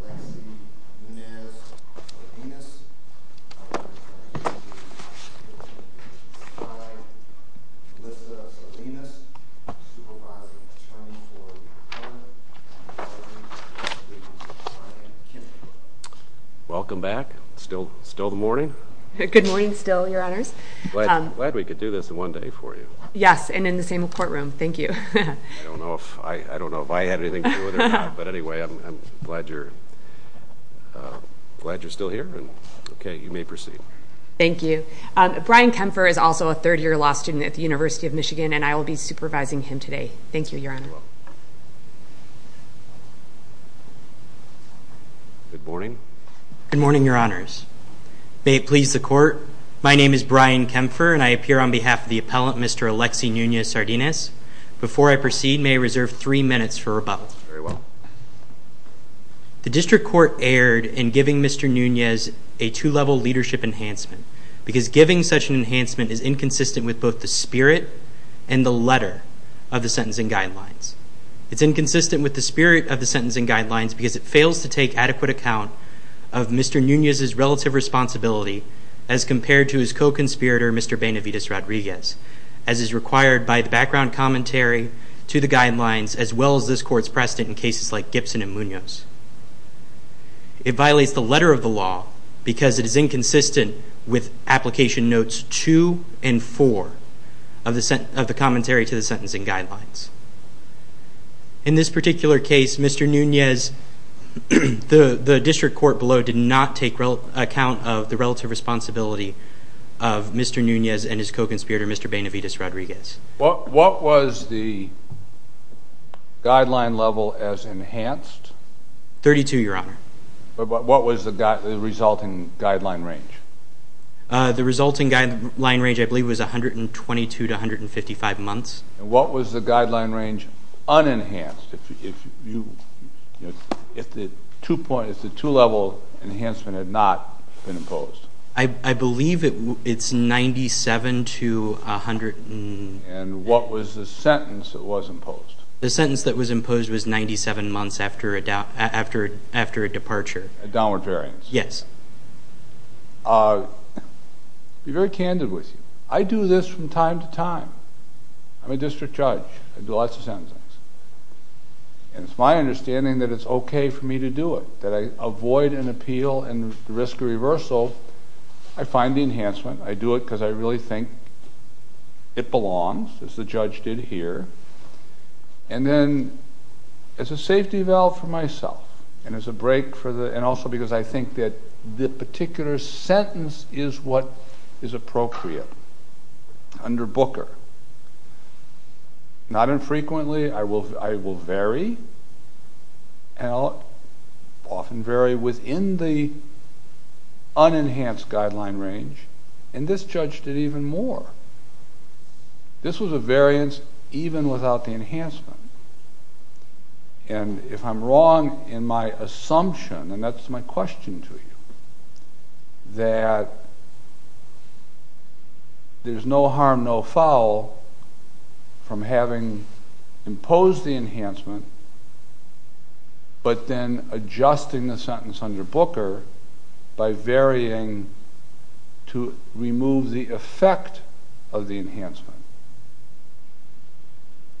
Alexi Nunez Sardinas, Alissa Sardinas, Supervisor of the Attorney for the Department, and the Attorney General's Assistant, Brian Kim. Welcome back. It's still the morning? Good morning still, Your Honors. I'm glad we could do this in one day for you. Yes, and in the same courtroom. Thank you. I don't know if I had anything to do with it or not, but anyway, I'm glad you're still here. Okay, you may proceed. Thank you. Brian Kempfer is also a third-year law student at the University of Michigan, and I will be supervising him today. Thank you, Your Honor. You're welcome. Good morning. Good morning, Your Honors. May it please the Court, my name is Brian Kempfer, and I appear on behalf of the appellant, Mr. Alexi Nunez Sardinas. Before I proceed, may I reserve three minutes for rebuttal? Very well. The District Court erred in giving Mr. Nunez a two-level leadership enhancement, because giving such an enhancement is inconsistent with both the spirit and the letter of the Sentencing Guidelines. It's inconsistent with the spirit of the Sentencing Guidelines because it fails to take adequate account of Mr. Nunez's relative responsibility as compared to his co-conspirator, Mr. Benavides Rodriguez, as is required by the background commentary to the Guidelines, as well as this Court's precedent in cases like Gibson and Munoz. It violates the letter of the law because it is inconsistent with Application Notes 2 and 4 of the Commentary to the Sentencing Guidelines. In this particular case, Mr. Nunez, the District Court below did not take account of the relative responsibility of Mr. Nunez and his co-conspirator, Mr. Benavides Rodriguez. What was the guideline level as enhanced? Thirty-two, Your Honor. But what was the resulting guideline range? The resulting guideline range, I believe, was 122 to 155 months. And what was the guideline range unenhanced if the two-level enhancement had not been imposed? I believe it's 97 to 100. And what was the sentence that was imposed? The sentence that was imposed was 97 months after a departure. A downward variance. Yes. I'll be very candid with you. I do this from time to time. I'm a district judge. I do lots of sentencing. And it's my understanding that it's okay for me to do it, that I avoid an appeal and the risk of reversal. I find the enhancement. I do it because I really think it belongs, as the judge did here. And then, as a safety valve for myself, and as a break for the, and also because I think that the particular sentence is what is appropriate under Booker. Not infrequently, I will vary. And I'll often vary within the unenhanced guideline range. And this judge did even more. This was a variance even without the enhancement. And if I'm wrong in my assumption, and that's my question to you, that there's no harm, no foul from having imposed the enhancement, but then adjusting the sentence under Booker by varying to remove the effect of the enhancement.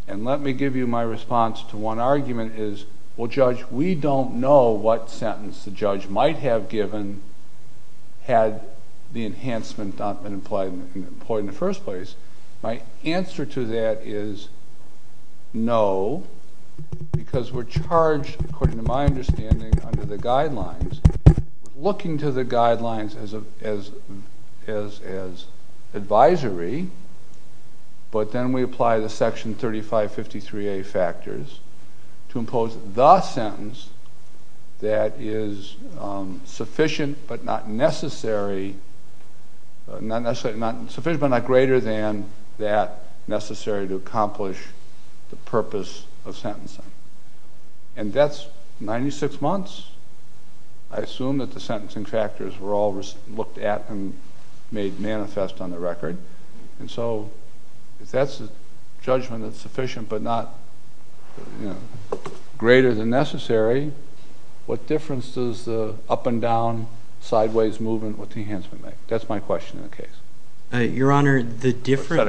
And let me give you my response to one argument is, well, Judge, we don't know what sentence the judge might have given had the enhancement not been employed in the first place. My answer to that is no, because we're charged, according to my understanding, under the guidelines. Looking to the guidelines as advisory, but then we apply the Section 3553A factors to impose the sentence that is sufficient but not necessary, not sufficient but not greater than that necessary to accomplish the purpose of sentencing. And that's 96 months. I assume that the sentencing factors were all looked at and made manifest on the record. And so if that's a judgment that's sufficient but not greater than necessary, what difference does the up and down, sideways movement with the enhancement make? That's my question in the case. Your Honor, the difference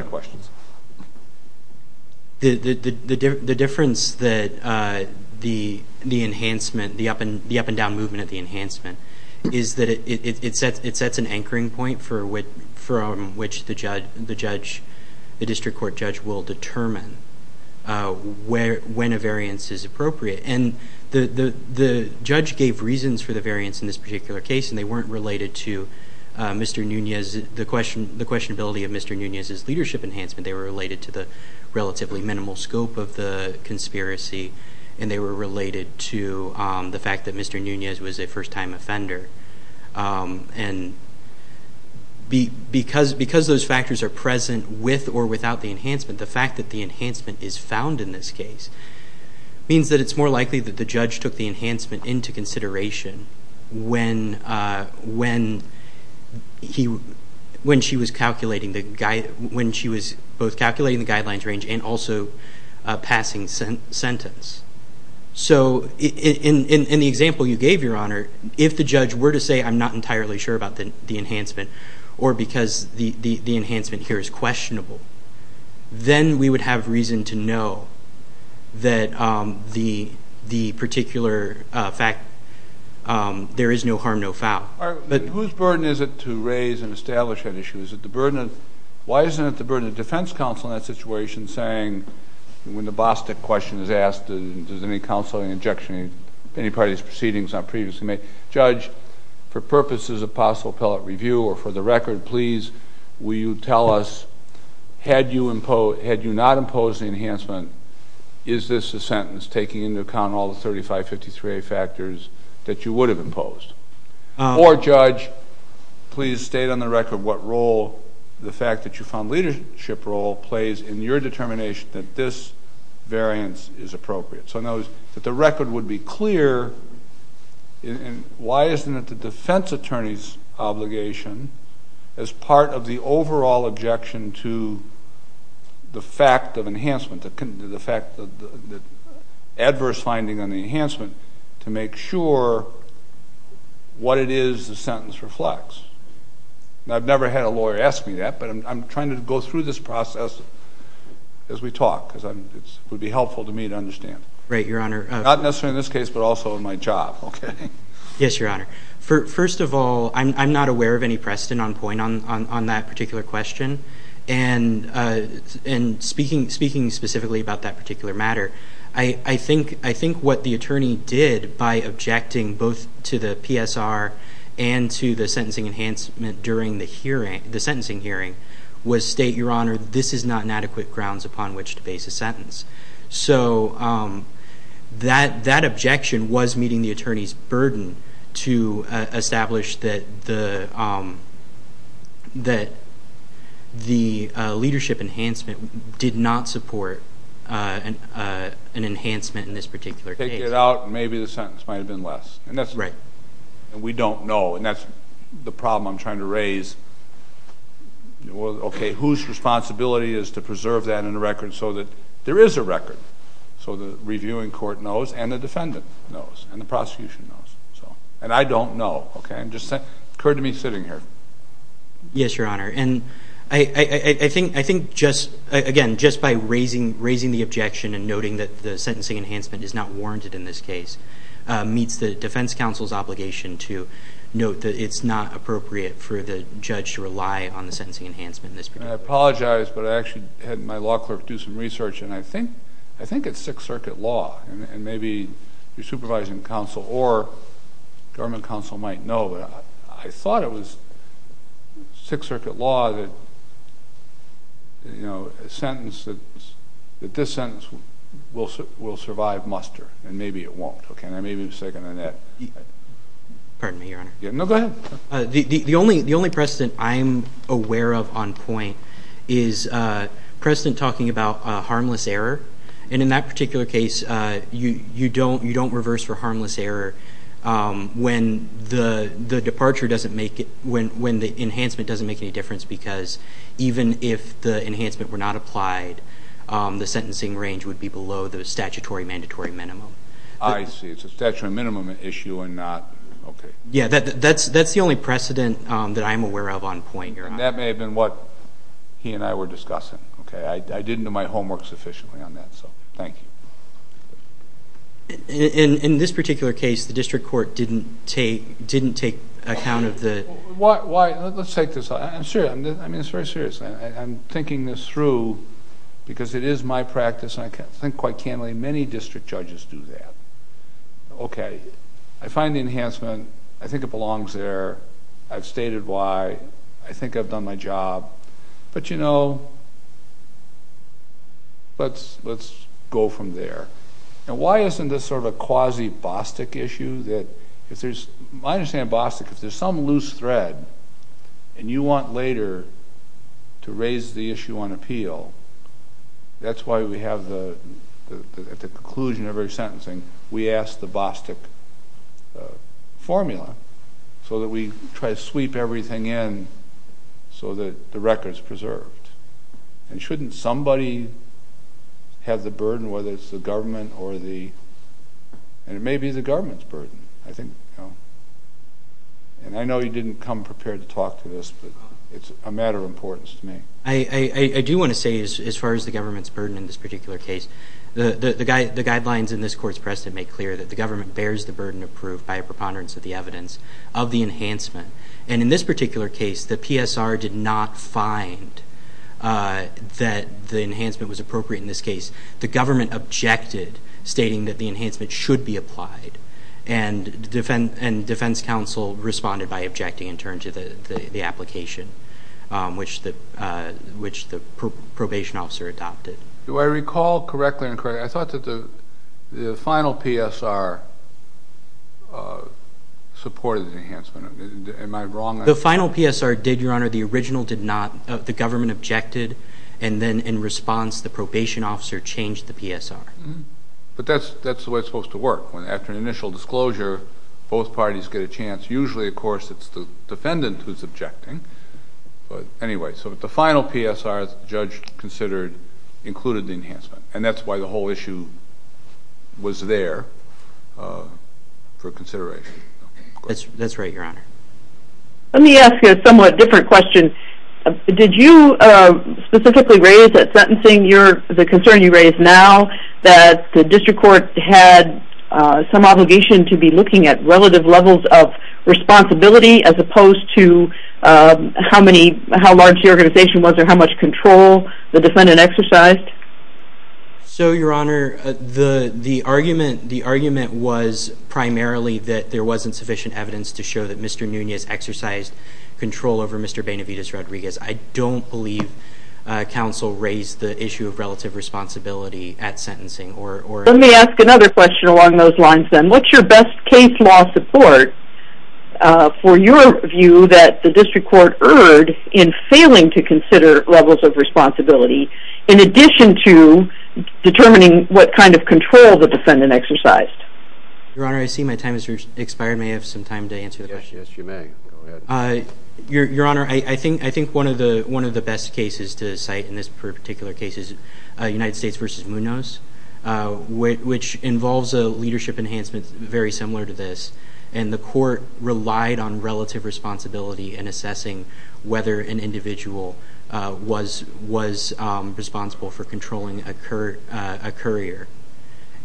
that the enhancement, the up and down movement of the enhancement, is that it sets an anchoring point from which the judge, the district court judge, will determine when a variance is appropriate. And the judge gave reasons for the variance in this particular case, and they weren't related to Mr. Nunez, the questionability of Mr. Nunez's leadership enhancement. They were related to the relatively minimal scope of the conspiracy, and they were related to the fact that Mr. Nunez was a first-time offender. And because those factors are present with or without the enhancement, the fact that the enhancement is found in this case means that it's more likely that the judge took the enhancement into consideration when she was both calculating the guidelines range and also passing sentence. So in the example you gave, Your Honor, if the judge were to say, I'm not entirely sure about the enhancement or because the enhancement here is questionable, then we would have reason to know that the particular fact, there is no harm, no foul. Whose burden is it to raise and establish that issue? Why isn't it the burden of defense counsel in that situation saying, when the Bostick question is asked, does any counsel have any objection to any part of these proceedings not previously made? Judge, for purposes of possible appellate review or for the record, please will you tell us, had you not imposed the enhancement, is this a sentence taking into account all the 3553A factors that you would have imposed? Or, Judge, please state on the record what role the fact that you found leadership role plays in your determination that this variance is appropriate. So notice that the record would be clear, and why isn't it the defense attorney's obligation, as part of the overall objection to the fact of enhancement, the adverse finding on the enhancement, to make sure what it is the sentence reflects. I've never had a lawyer ask me that, but I'm trying to go through this process as we talk, because it would be helpful to me to understand. Right, Your Honor. Not necessarily in this case, but also in my job, okay? Yes, Your Honor. First of all, I'm not aware of any precedent on point on that particular question, and speaking specifically about that particular matter, I think what the attorney did by objecting both to the PSR and to the sentencing enhancement during the sentencing hearing was state, Your Honor, this is not an adequate grounds upon which to base a sentence. So that objection was meeting the attorney's burden to establish that the leadership enhancement did not support an enhancement in this particular case. Take it out, and maybe the sentence might have been less. Right. And we don't know, and that's the problem I'm trying to raise. Okay. Whose responsibility is to preserve that in the record so that there is a record, so the reviewing court knows and the defendant knows and the prosecution knows? And I don't know, okay? It just occurred to me sitting here. Yes, Your Honor. And I think, again, just by raising the objection and noting that the sentencing enhancement is not warranted in this case meets the defense counsel's obligation to note that it's not appropriate for the judge to rely on the sentencing enhancement in this particular case. I apologize, but I actually had my law clerk do some research, and I think it's Sixth Circuit law, and maybe your supervising counsel or government counsel might know, but I thought it was Sixth Circuit law that, you know, a sentence that this sentence will survive muster, and maybe it won't. Okay, and I may be mistaken on that. Pardon me, Your Honor. No, go ahead. The only precedent I'm aware of on point is precedent talking about harmless error, and in that particular case, you don't reverse for harmless error when the departure doesn't make it, when the enhancement doesn't make any difference because even if the enhancement were not applied, the sentencing range would be below the statutory mandatory minimum. I see. It's a statutory minimum issue and not, okay. Yes, that's the only precedent that I'm aware of on point, Your Honor. And that may have been what he and I were discussing, okay? I didn't do my homework sufficiently on that, so thank you. In this particular case, the district court didn't take account of the ---- Why? Let's take this. I'm serious. I mean, it's very serious. I'm thinking this through because it is my practice, and I think quite candidly many district judges do that. Okay, I find the enhancement. I think it belongs there. I've stated why. I think I've done my job. But, you know, let's go from there. Now, why isn't this sort of a quasi-Bostick issue that if there's ---- I understand Bostick. If there's some loose thread and you want later to raise the issue on appeal, that's why we have at the conclusion of every sentencing we ask the Bostick formula so that we try to sweep everything in so that the record is preserved. And shouldn't somebody have the burden, whether it's the government or the ---- and it may be the government's burden, I think. And I know you didn't come prepared to talk to this, but it's a matter of importance to me. I do want to say, as far as the government's burden in this particular case, the guidelines in this court's precedent make clear that the government bears the burden of proof by a preponderance of the evidence of the enhancement. And in this particular case, the PSR did not find that the enhancement was appropriate in this case. The government objected, stating that the enhancement should be applied, and defense counsel responded by objecting and turned to the application, which the probation officer adopted. Do I recall correctly or incorrectly? I thought that the final PSR supported the enhancement. Am I wrong? The final PSR did, Your Honor. The original did not. The government objected, and then in response the probation officer changed the PSR. But that's the way it's supposed to work. After an initial disclosure, both parties get a chance. Usually, of course, it's the defendant who's objecting. Anyway, so the final PSR the judge considered included the enhancement, and that's why the whole issue was there for consideration. That's right, Your Honor. Let me ask you a somewhat different question. Did you specifically raise at sentencing the concern you raise now that the district court had some obligation to be looking at relative levels of responsibility as opposed to how large the organization was or how much control the defendant exercised? So, Your Honor, the argument was primarily that there wasn't sufficient evidence to show that Mr. Nunez exercised control over Mr. Benavidez-Rodriguez. I don't believe counsel raised the issue of relative responsibility at sentencing. Let me ask another question along those lines, then. What's your best case law support for your view that the district court erred in failing to consider levels of responsibility in addition to determining what kind of control the defendant exercised? Your Honor, I see my time has expired. May I have some time to answer the question? Yes, you may. Go ahead. Your Honor, I think one of the best cases to cite in this particular case is United States v. Munoz. Which involves a leadership enhancement very similar to this. And the court relied on relative responsibility in assessing whether an individual was responsible for controlling a courier.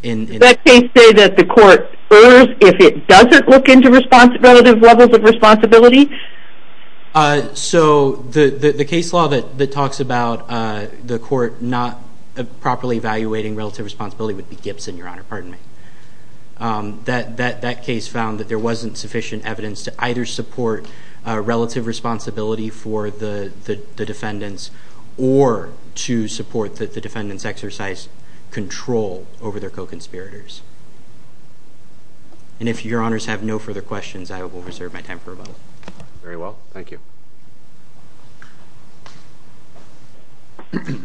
Does that case say that the court errs if it doesn't look into relative levels of responsibility? So the case law that talks about the court not properly evaluating relative responsibility would be Gibson, Your Honor. Pardon me. That case found that there wasn't sufficient evidence to either support relative responsibility for the defendants or to support that the defendants exercised control over their co-conspirators. And if Your Honors have no further questions, I will reserve my time for rebuttal. Very well. Thank you. Good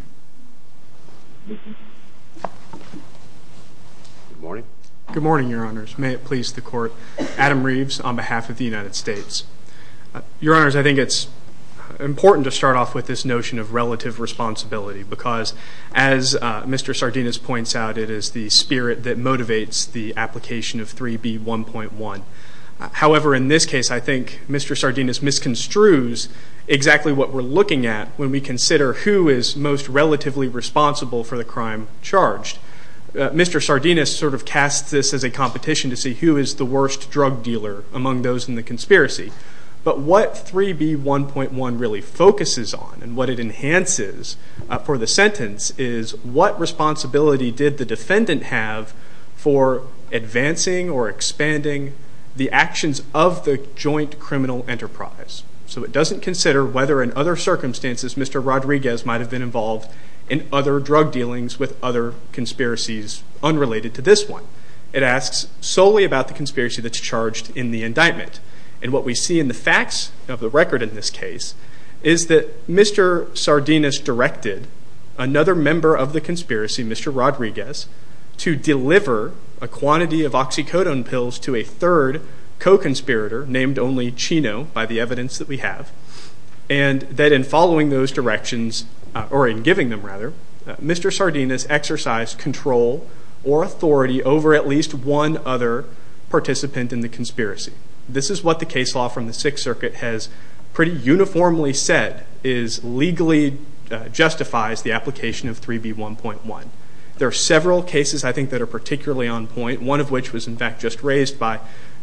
morning. Good morning, Your Honors. May it please the Court. Adam Reeves on behalf of the United States. Your Honors, I think it's important to start off with this notion of relative responsibility because as Mr. Sardinus points out, it is the spirit that motivates the application of 3B1.1. However, in this case, I think Mr. Sardinus misconstrues exactly what we're looking at when we consider who is most relatively responsible for the crime charged. Mr. Sardinus sort of casts this as a competition to see who is the worst drug dealer among those in the conspiracy. But what 3B1.1 really focuses on and what it enhances for the sentence is what responsibility did the defendant have for advancing or expanding the actions of the joint criminal enterprise. So it doesn't consider whether in other circumstances, Mr. Rodriguez might have been involved in other drug dealings with other conspiracies unrelated to this one. It asks solely about the conspiracy that's charged in the indictment. And what we see in the facts of the record in this case is that Mr. Sardinus directed another member of the conspiracy, Mr. Rodriguez, to deliver a quantity of oxycodone pills to a third co-conspirator named only Chino by the evidence that we have. And that in following those directions, or in giving them rather, Mr. Sardinus exercised control or authority over at least one other participant in the conspiracy. This is what the case law from the Sixth Circuit has pretty uniformly said legally justifies the application of 3B1.1. There are several cases I think that are particularly on point, one of which was in fact just raised by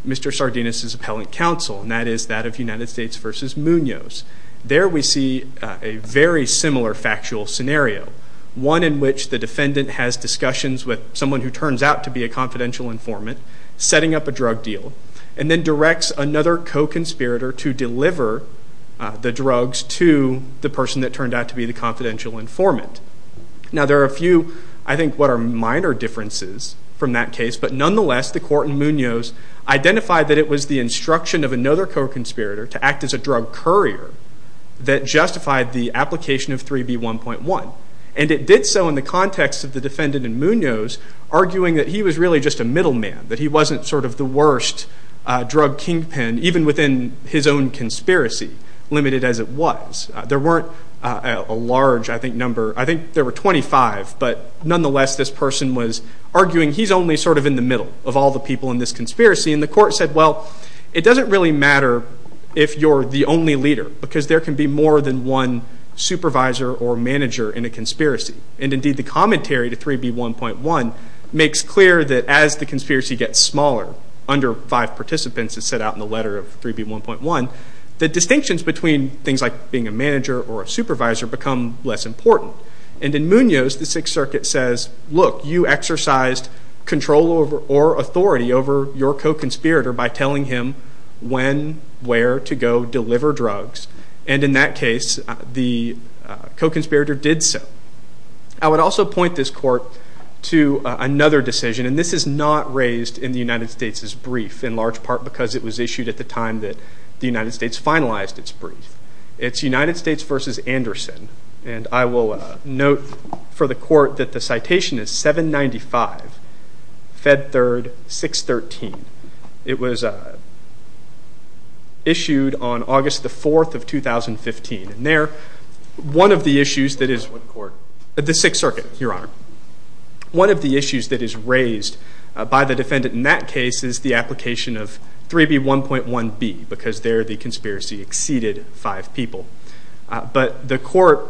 Mr. Sardinus' appellant counsel, and that is that of United States v. Munoz. There we see a very similar factual scenario, one in which the defendant has discussions with someone who turns out to be a confidential informant setting up a drug deal. And then directs another co-conspirator to deliver the drugs to the person that turned out to be the confidential informant. Now there are a few I think what are minor differences from that case, but nonetheless the court in Munoz identified that it was the instruction of another co-conspirator to act as a drug courier that justified the application of 3B1.1. And it did so in the context of the defendant in Munoz arguing that he was really just a middle man, that he wasn't sort of the worst drug kingpin, even within his own conspiracy, limited as it was. There weren't a large I think number, I think there were 25, but nonetheless this person was arguing he's only sort of in the middle of all the people in this conspiracy, and the court said, well it doesn't really matter if you're the only leader, because there can be more than one supervisor or manager in a conspiracy. And indeed the commentary to 3B1.1 makes clear that as the conspiracy gets smaller, under five participants as set out in the letter of 3B1.1, the distinctions between things like being a manager or a supervisor become less important. And in Munoz the Sixth Circuit says, look you exercised control or authority over your co-conspirator by telling him when, where to go deliver drugs, and in that case the co-conspirator did so. I would also point this court to another decision, and this is not raised in the United States' brief, in large part because it was issued at the time that the United States finalized its brief. It's United States versus Anderson, and I will note for the court that the citation is 795, Fed Third, 613. It was issued on August the 4th of 2015, and there one of the issues that is, the Sixth Circuit, Your Honor, one of the issues that is raised by the defendant in that case is the application of 3B1.1b, because there the conspiracy exceeded five people. But the court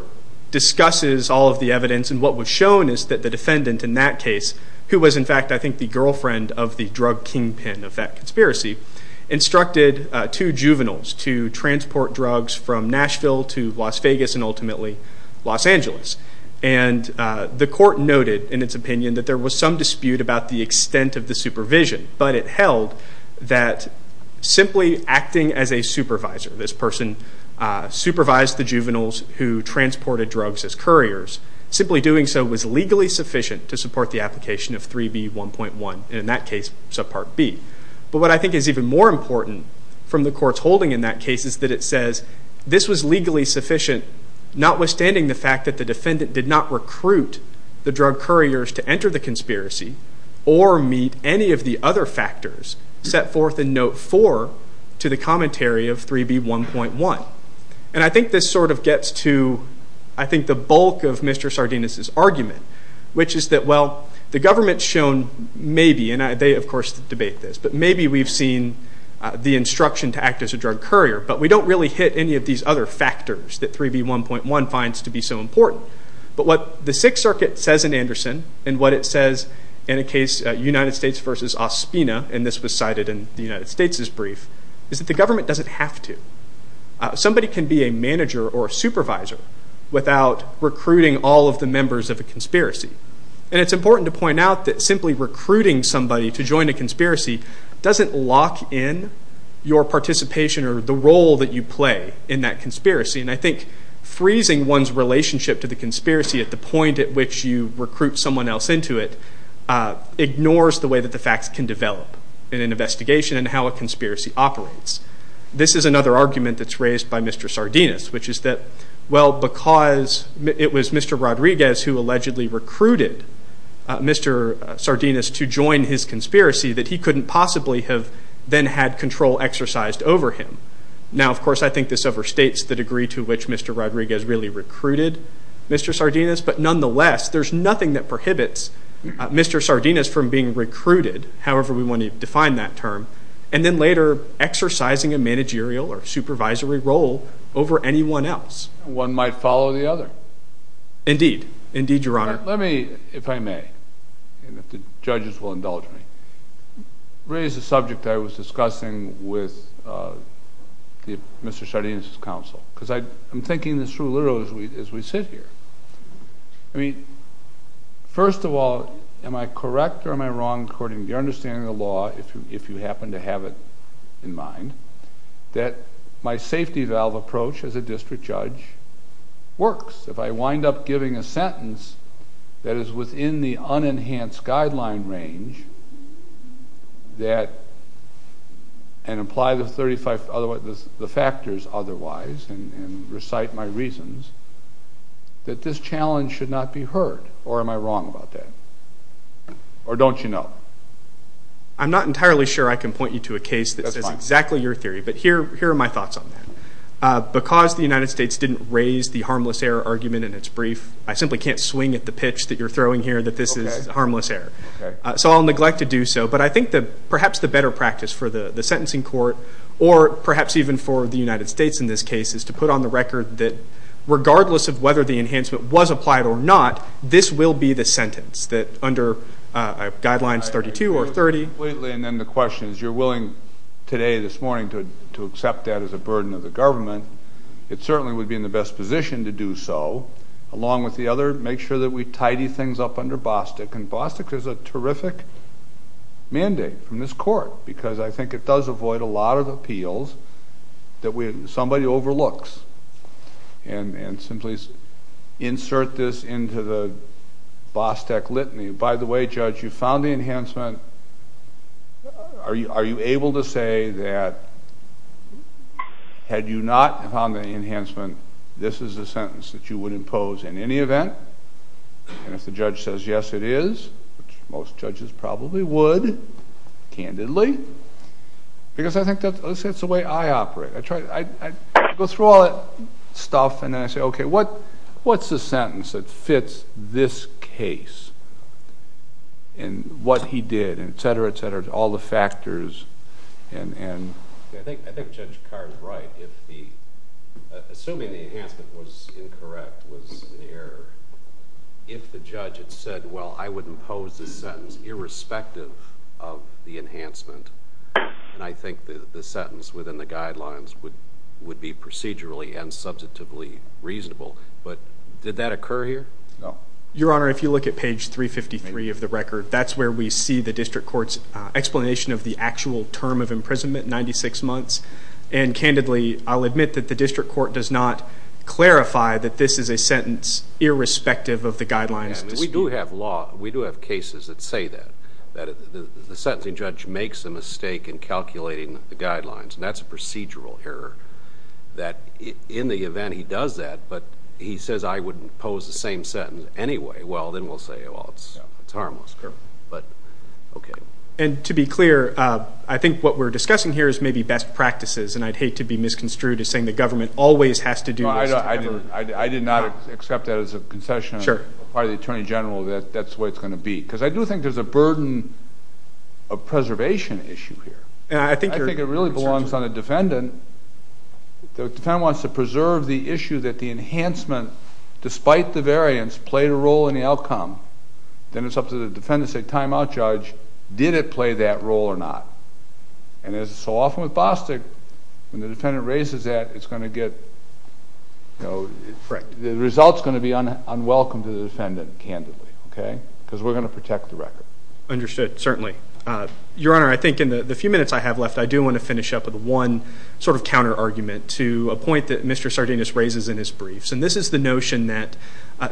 discusses all of the evidence, and what was shown is that the defendant in that case, who was in fact I think the girlfriend of the drug kingpin of that conspiracy, instructed two juveniles to transport drugs from Nashville to Las Vegas and ultimately Los Angeles. And the court noted in its opinion that there was some dispute about the extent of the supervision, but it held that simply acting as a supervisor, this person supervised the juveniles who transported drugs as couriers, simply doing so was legally sufficient to support the application of 3B1.1, and in that case subpart B. But what I think is even more important from the court's holding in that case is that it says this was legally sufficient, notwithstanding the fact that the defendant did not recruit the drug couriers to enter the conspiracy or meet any of the other factors set forth in Note 4 to the commentary of 3B1.1. And I think this sort of gets to I think the bulk of Mr. Sardinus' argument, which is that, well, the government's shown maybe, and they of course debate this, but maybe we've seen the instruction to act as a drug courier, but we don't really hit any of these other factors that 3B1.1 finds to be so important. But what the Sixth Circuit says in Anderson, and what it says in a case United States v. Ospina, and this was cited in the United States' brief, is that the government doesn't have to. Somebody can be a manager or a supervisor without recruiting all of the members of a conspiracy. And it's important to point out that simply recruiting somebody to join a conspiracy doesn't lock in your participation or the role that you play in that conspiracy. And I think freezing one's relationship to the conspiracy at the point at which you recruit someone else into it ignores the way that the facts can develop in an investigation and how a conspiracy operates. This is another argument that's raised by Mr. Sardinus, which is that, well, because it was Mr. Rodriguez who allegedly recruited Mr. Sardinus to join his conspiracy, that he couldn't possibly have then had control exercised over him. Now, of course, I think this overstates the degree to which Mr. Rodriguez really recruited Mr. Sardinus, but nonetheless there's nothing that prohibits Mr. Sardinus from being recruited, however we want to define that term, and then later exercising a managerial or supervisory role over anyone else. One might follow the other. Indeed. Indeed, Your Honor. Let me, if I may, and if the judges will indulge me, raise a subject I was discussing with Mr. Sardinus' counsel, because I'm thinking this through literally as we sit here. First of all, am I correct or am I wrong, according to your understanding of the law, if you happen to have it in mind, that my safety valve approach as a district judge works? If I wind up giving a sentence that is within the unenhanced guideline range and apply the factors otherwise and recite my reasons, that this challenge should not be heard? Or am I wrong about that? Or don't you know? I'm not entirely sure I can point you to a case that's exactly your theory, but here are my thoughts on that. Because the United States didn't raise the harmless error argument in its brief, I simply can't swing at the pitch that you're throwing here that this is harmless error. So I'll neglect to do so. But I think perhaps the better practice for the sentencing court or perhaps even for the United States in this case is to put on the record that, regardless of whether the enhancement was applied or not, this will be the sentence that under Guidelines 32 or 30. And then the question is, if you're willing today, this morning, to accept that as a burden of the government, it certainly would be in the best position to do so. Along with the other, make sure that we tidy things up under Bostick. And Bostick is a terrific mandate from this court because I think it does avoid a lot of appeals that somebody overlooks and simply insert this into the Bostick litany. By the way, Judge, you found the enhancement. Are you able to say that had you not found the enhancement, this is a sentence that you would impose in any event? And if the judge says, yes, it is, which most judges probably would, candidly, because I think that's the way I operate. I go through all that stuff and then I say, okay, what's the sentence that fits this case and what he did, et cetera, et cetera, all the factors. I think Judge Carr is right. Assuming the enhancement was incorrect, was an error, if the judge had said, well, I would impose the sentence irrespective of the enhancement, and I think the sentence within the Guidelines would be procedurally and substantively reasonable. But did that occur here? No. Your Honor, if you look at page 353 of the record, that's where we see the district court's explanation of the actual term of imprisonment, 96 months, and candidly, I'll admit that the district court does not clarify that this is a sentence irrespective of the Guidelines. We do have cases that say that, that the sentencing judge makes a mistake in calculating the Guidelines, and that's a procedural error, that in the event he does that, but he says I wouldn't impose the same sentence anyway, well, then we'll say, well, it's harmless. But, okay. And to be clear, I think what we're discussing here is maybe best practices, and I'd hate to be misconstrued as saying the government always has to do this. I did not accept that as a concession on the part of the Attorney General that that's the way it's going to be, because I do think there's a burden of preservation issue here. I think it really belongs on the defendant. The defendant wants to preserve the issue that the enhancement, despite the variance, played a role in the outcome. Then it's up to the defendant to say, time out, Judge, did it play that role or not? And so often with Bostick, when the defendant raises that, it's going to get, you know, the result's going to be unwelcome to the defendant, candidly, okay, because we're going to protect the record. Understood, certainly. Your Honor, I think in the few minutes I have left, I do want to finish up with one sort of counter-argument to a point that Mr. Sardinus raises in his briefs, and this is the notion that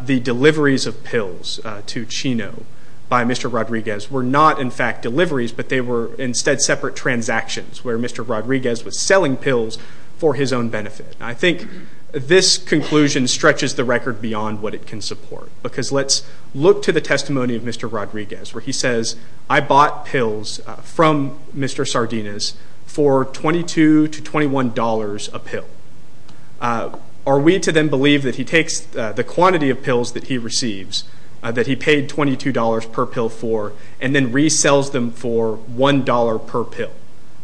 the deliveries of pills to Chino by Mr. Rodriguez were not, in fact, deliveries, but they were instead separate transactions where Mr. Rodriguez was selling pills for his own benefit. I think this conclusion stretches the record beyond what it can support, because let's look to the testimony of Mr. Rodriguez, where he says, I bought pills from Mr. Sardinus for $22 to $21 a pill. Are we to then believe that he takes the quantity of pills that he receives, that he paid $22 per pill for, and then resells them for $1 per pill?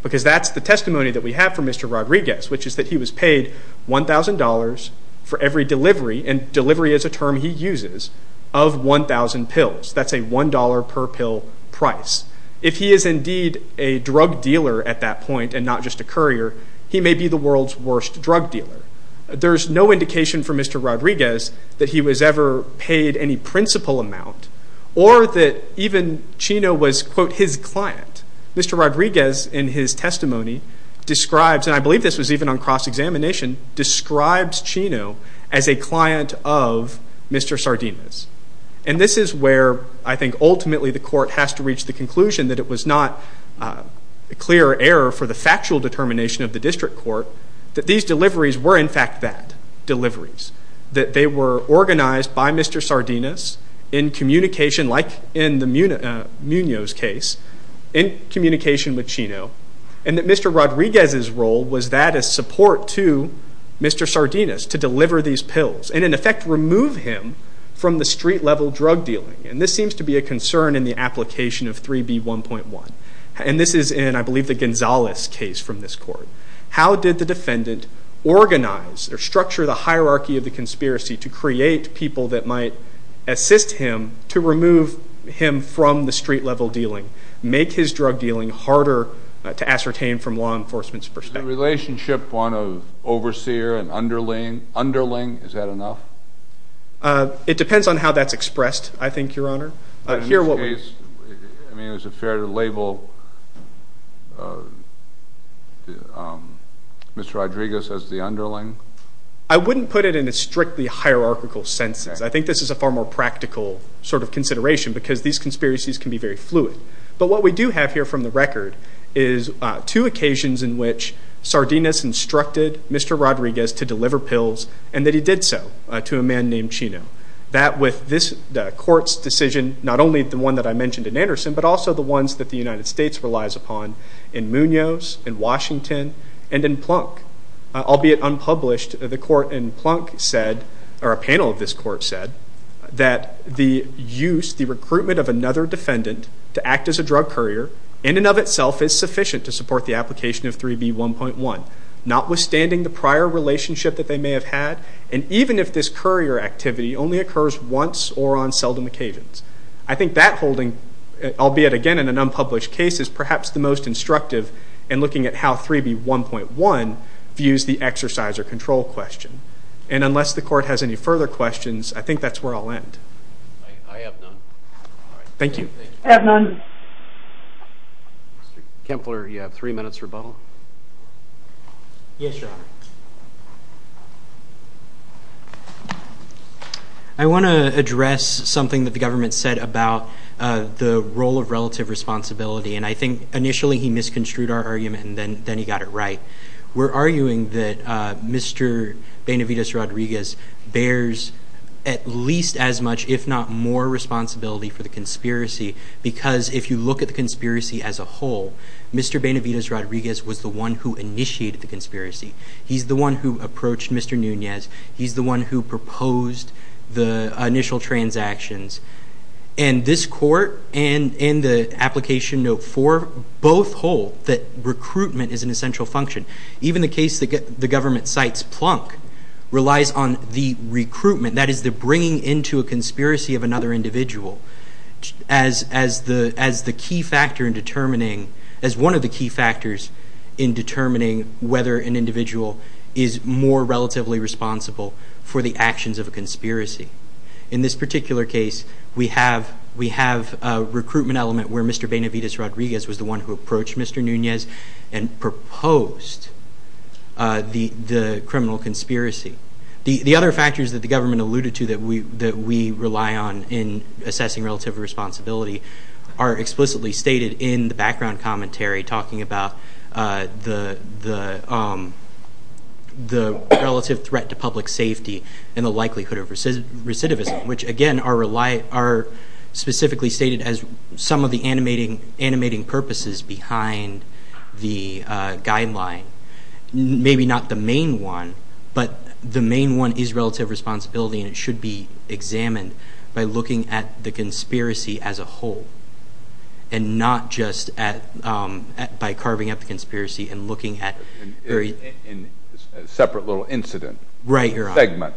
Because that's the testimony that we have from Mr. Rodriguez, which is that he was paid $1,000 for every delivery, and delivery is a term he uses, of 1,000 pills. That's a $1 per pill price. If he is indeed a drug dealer at that point and not just a courier, he may be the world's worst drug dealer. There's no indication from Mr. Rodriguez that he was ever paid any principal amount or that even Chino was, quote, his client. Mr. Rodriguez, in his testimony, describes, and I believe this was even on cross-examination, describes Chino as a client of Mr. Sardinus. And this is where I think ultimately the court has to reach the conclusion that it was not a clear error for the factual determination of the district court that these deliveries were in fact that, deliveries, that they were organized by Mr. Sardinus in communication, like in Munoz's case, in communication with Chino, and that Mr. Rodriguez's role was that as support to Mr. Sardinus to deliver these pills and, in effect, remove him from the street-level drug dealing. And this seems to be a concern in the application of 3B1.1. And this is in, I believe, the Gonzalez case from this court. How did the defendant organize or structure the hierarchy of the conspiracy to create people that might assist him to remove him from the street-level dealing, make his drug dealing harder to ascertain from law enforcement's perspective? Is the relationship one of overseer and underling? Is that enough? It depends on how that's expressed, I think, Your Honor. In this case, I mean, is it fair to label Mr. Rodriguez as the underling? I wouldn't put it in a strictly hierarchical sense. I think this is a far more practical sort of consideration because these conspiracies can be very fluid. But what we do have here from the record is two occasions in which Sardinus instructed Mr. Rodriguez to deliver pills and that he did so to a man named Chino. That with this court's decision, not only the one that I mentioned in Anderson, but also the ones that the United States relies upon in Munoz, in Washington, and in Plunk. Albeit unpublished, the court in Plunk said, or a panel of this court said, that the use, the recruitment of another defendant to act as a drug courier in and of itself is sufficient to support the application of 3B1.1, notwithstanding the prior relationship that they may have had, and even if this courier activity only occurs once or on seldom occasions. I think that holding, albeit again in an unpublished case, is perhaps the most instructive in looking at how 3B1.1 views the exercise or control question. And unless the court has any further questions, I think that's where I'll end. I have none. Thank you. I have none. Mr. Kempler, you have three minutes rebuttal. Yes, Your Honor. I want to address something that the government said about the role of relative responsibility, and I think initially he misconstrued our argument and then he got it right. We're arguing that Mr. Benavides-Rodriguez bears at least as much, if not more responsibility for the conspiracy, because if you look at the conspiracy as a whole, Mr. Benavides-Rodriguez was the one who initiated the conspiracy. He's the one who approached Mr. Nunez. He's the one who proposed the initial transactions. And this court and the application note 4 both hold that recruitment is an essential function Even the case the government cites, Plunk, relies on the recruitment, that is the bringing into a conspiracy of another individual, as one of the key factors in determining whether an individual is more relatively responsible for the actions of a conspiracy. In this particular case, we have a recruitment element where Mr. Benavides-Rodriguez was the one who approached Mr. Nunez and proposed the criminal conspiracy. The other factors that the government alluded to that we rely on in assessing relative responsibility are explicitly stated in the background commentary, talking about the relative threat to public safety and the likelihood of recidivism, which again are specifically stated as some of the animating purposes behind the guideline. Maybe not the main one, but the main one is relative responsibility and it should be examined by looking at the conspiracy as a whole and not just by carving up the conspiracy and looking at... ...a separate little incident segment.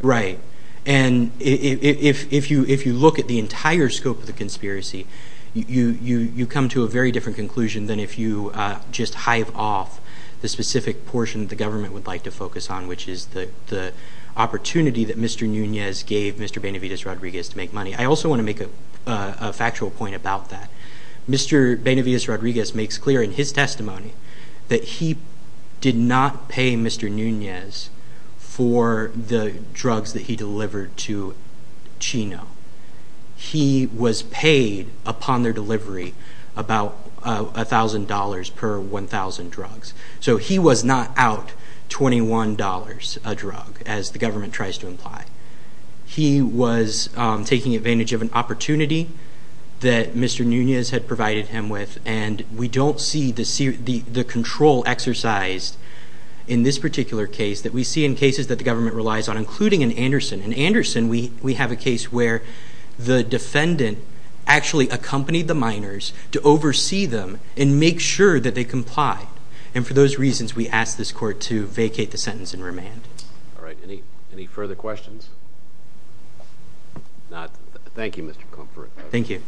Right. And if you look at the entire scope of the conspiracy, you come to a very different conclusion than if you just hive off the specific portion the government would like to focus on, which is the opportunity that Mr. Nunez gave Mr. Benavides-Rodriguez to make money. I also want to make a factual point about that. Mr. Benavides-Rodriguez makes clear in his testimony that he did not pay Mr. Nunez for the drugs that he delivered to Chino. He was paid upon their delivery about $1,000 per 1,000 drugs. So he was not out $21 a drug, as the government tries to imply. He was taking advantage of an opportunity that Mr. Nunez had provided him with, and we don't see the control exercised in this particular case that we see in cases that the government relies on, including in Anderson. In Anderson, we have a case where the defendant actually accompanied the minors to oversee them and make sure that they complied. And for those reasons, we ask this court to vacate the sentence and remand. All right. Any further questions? Thank you, Mr. Comfort, for your argument.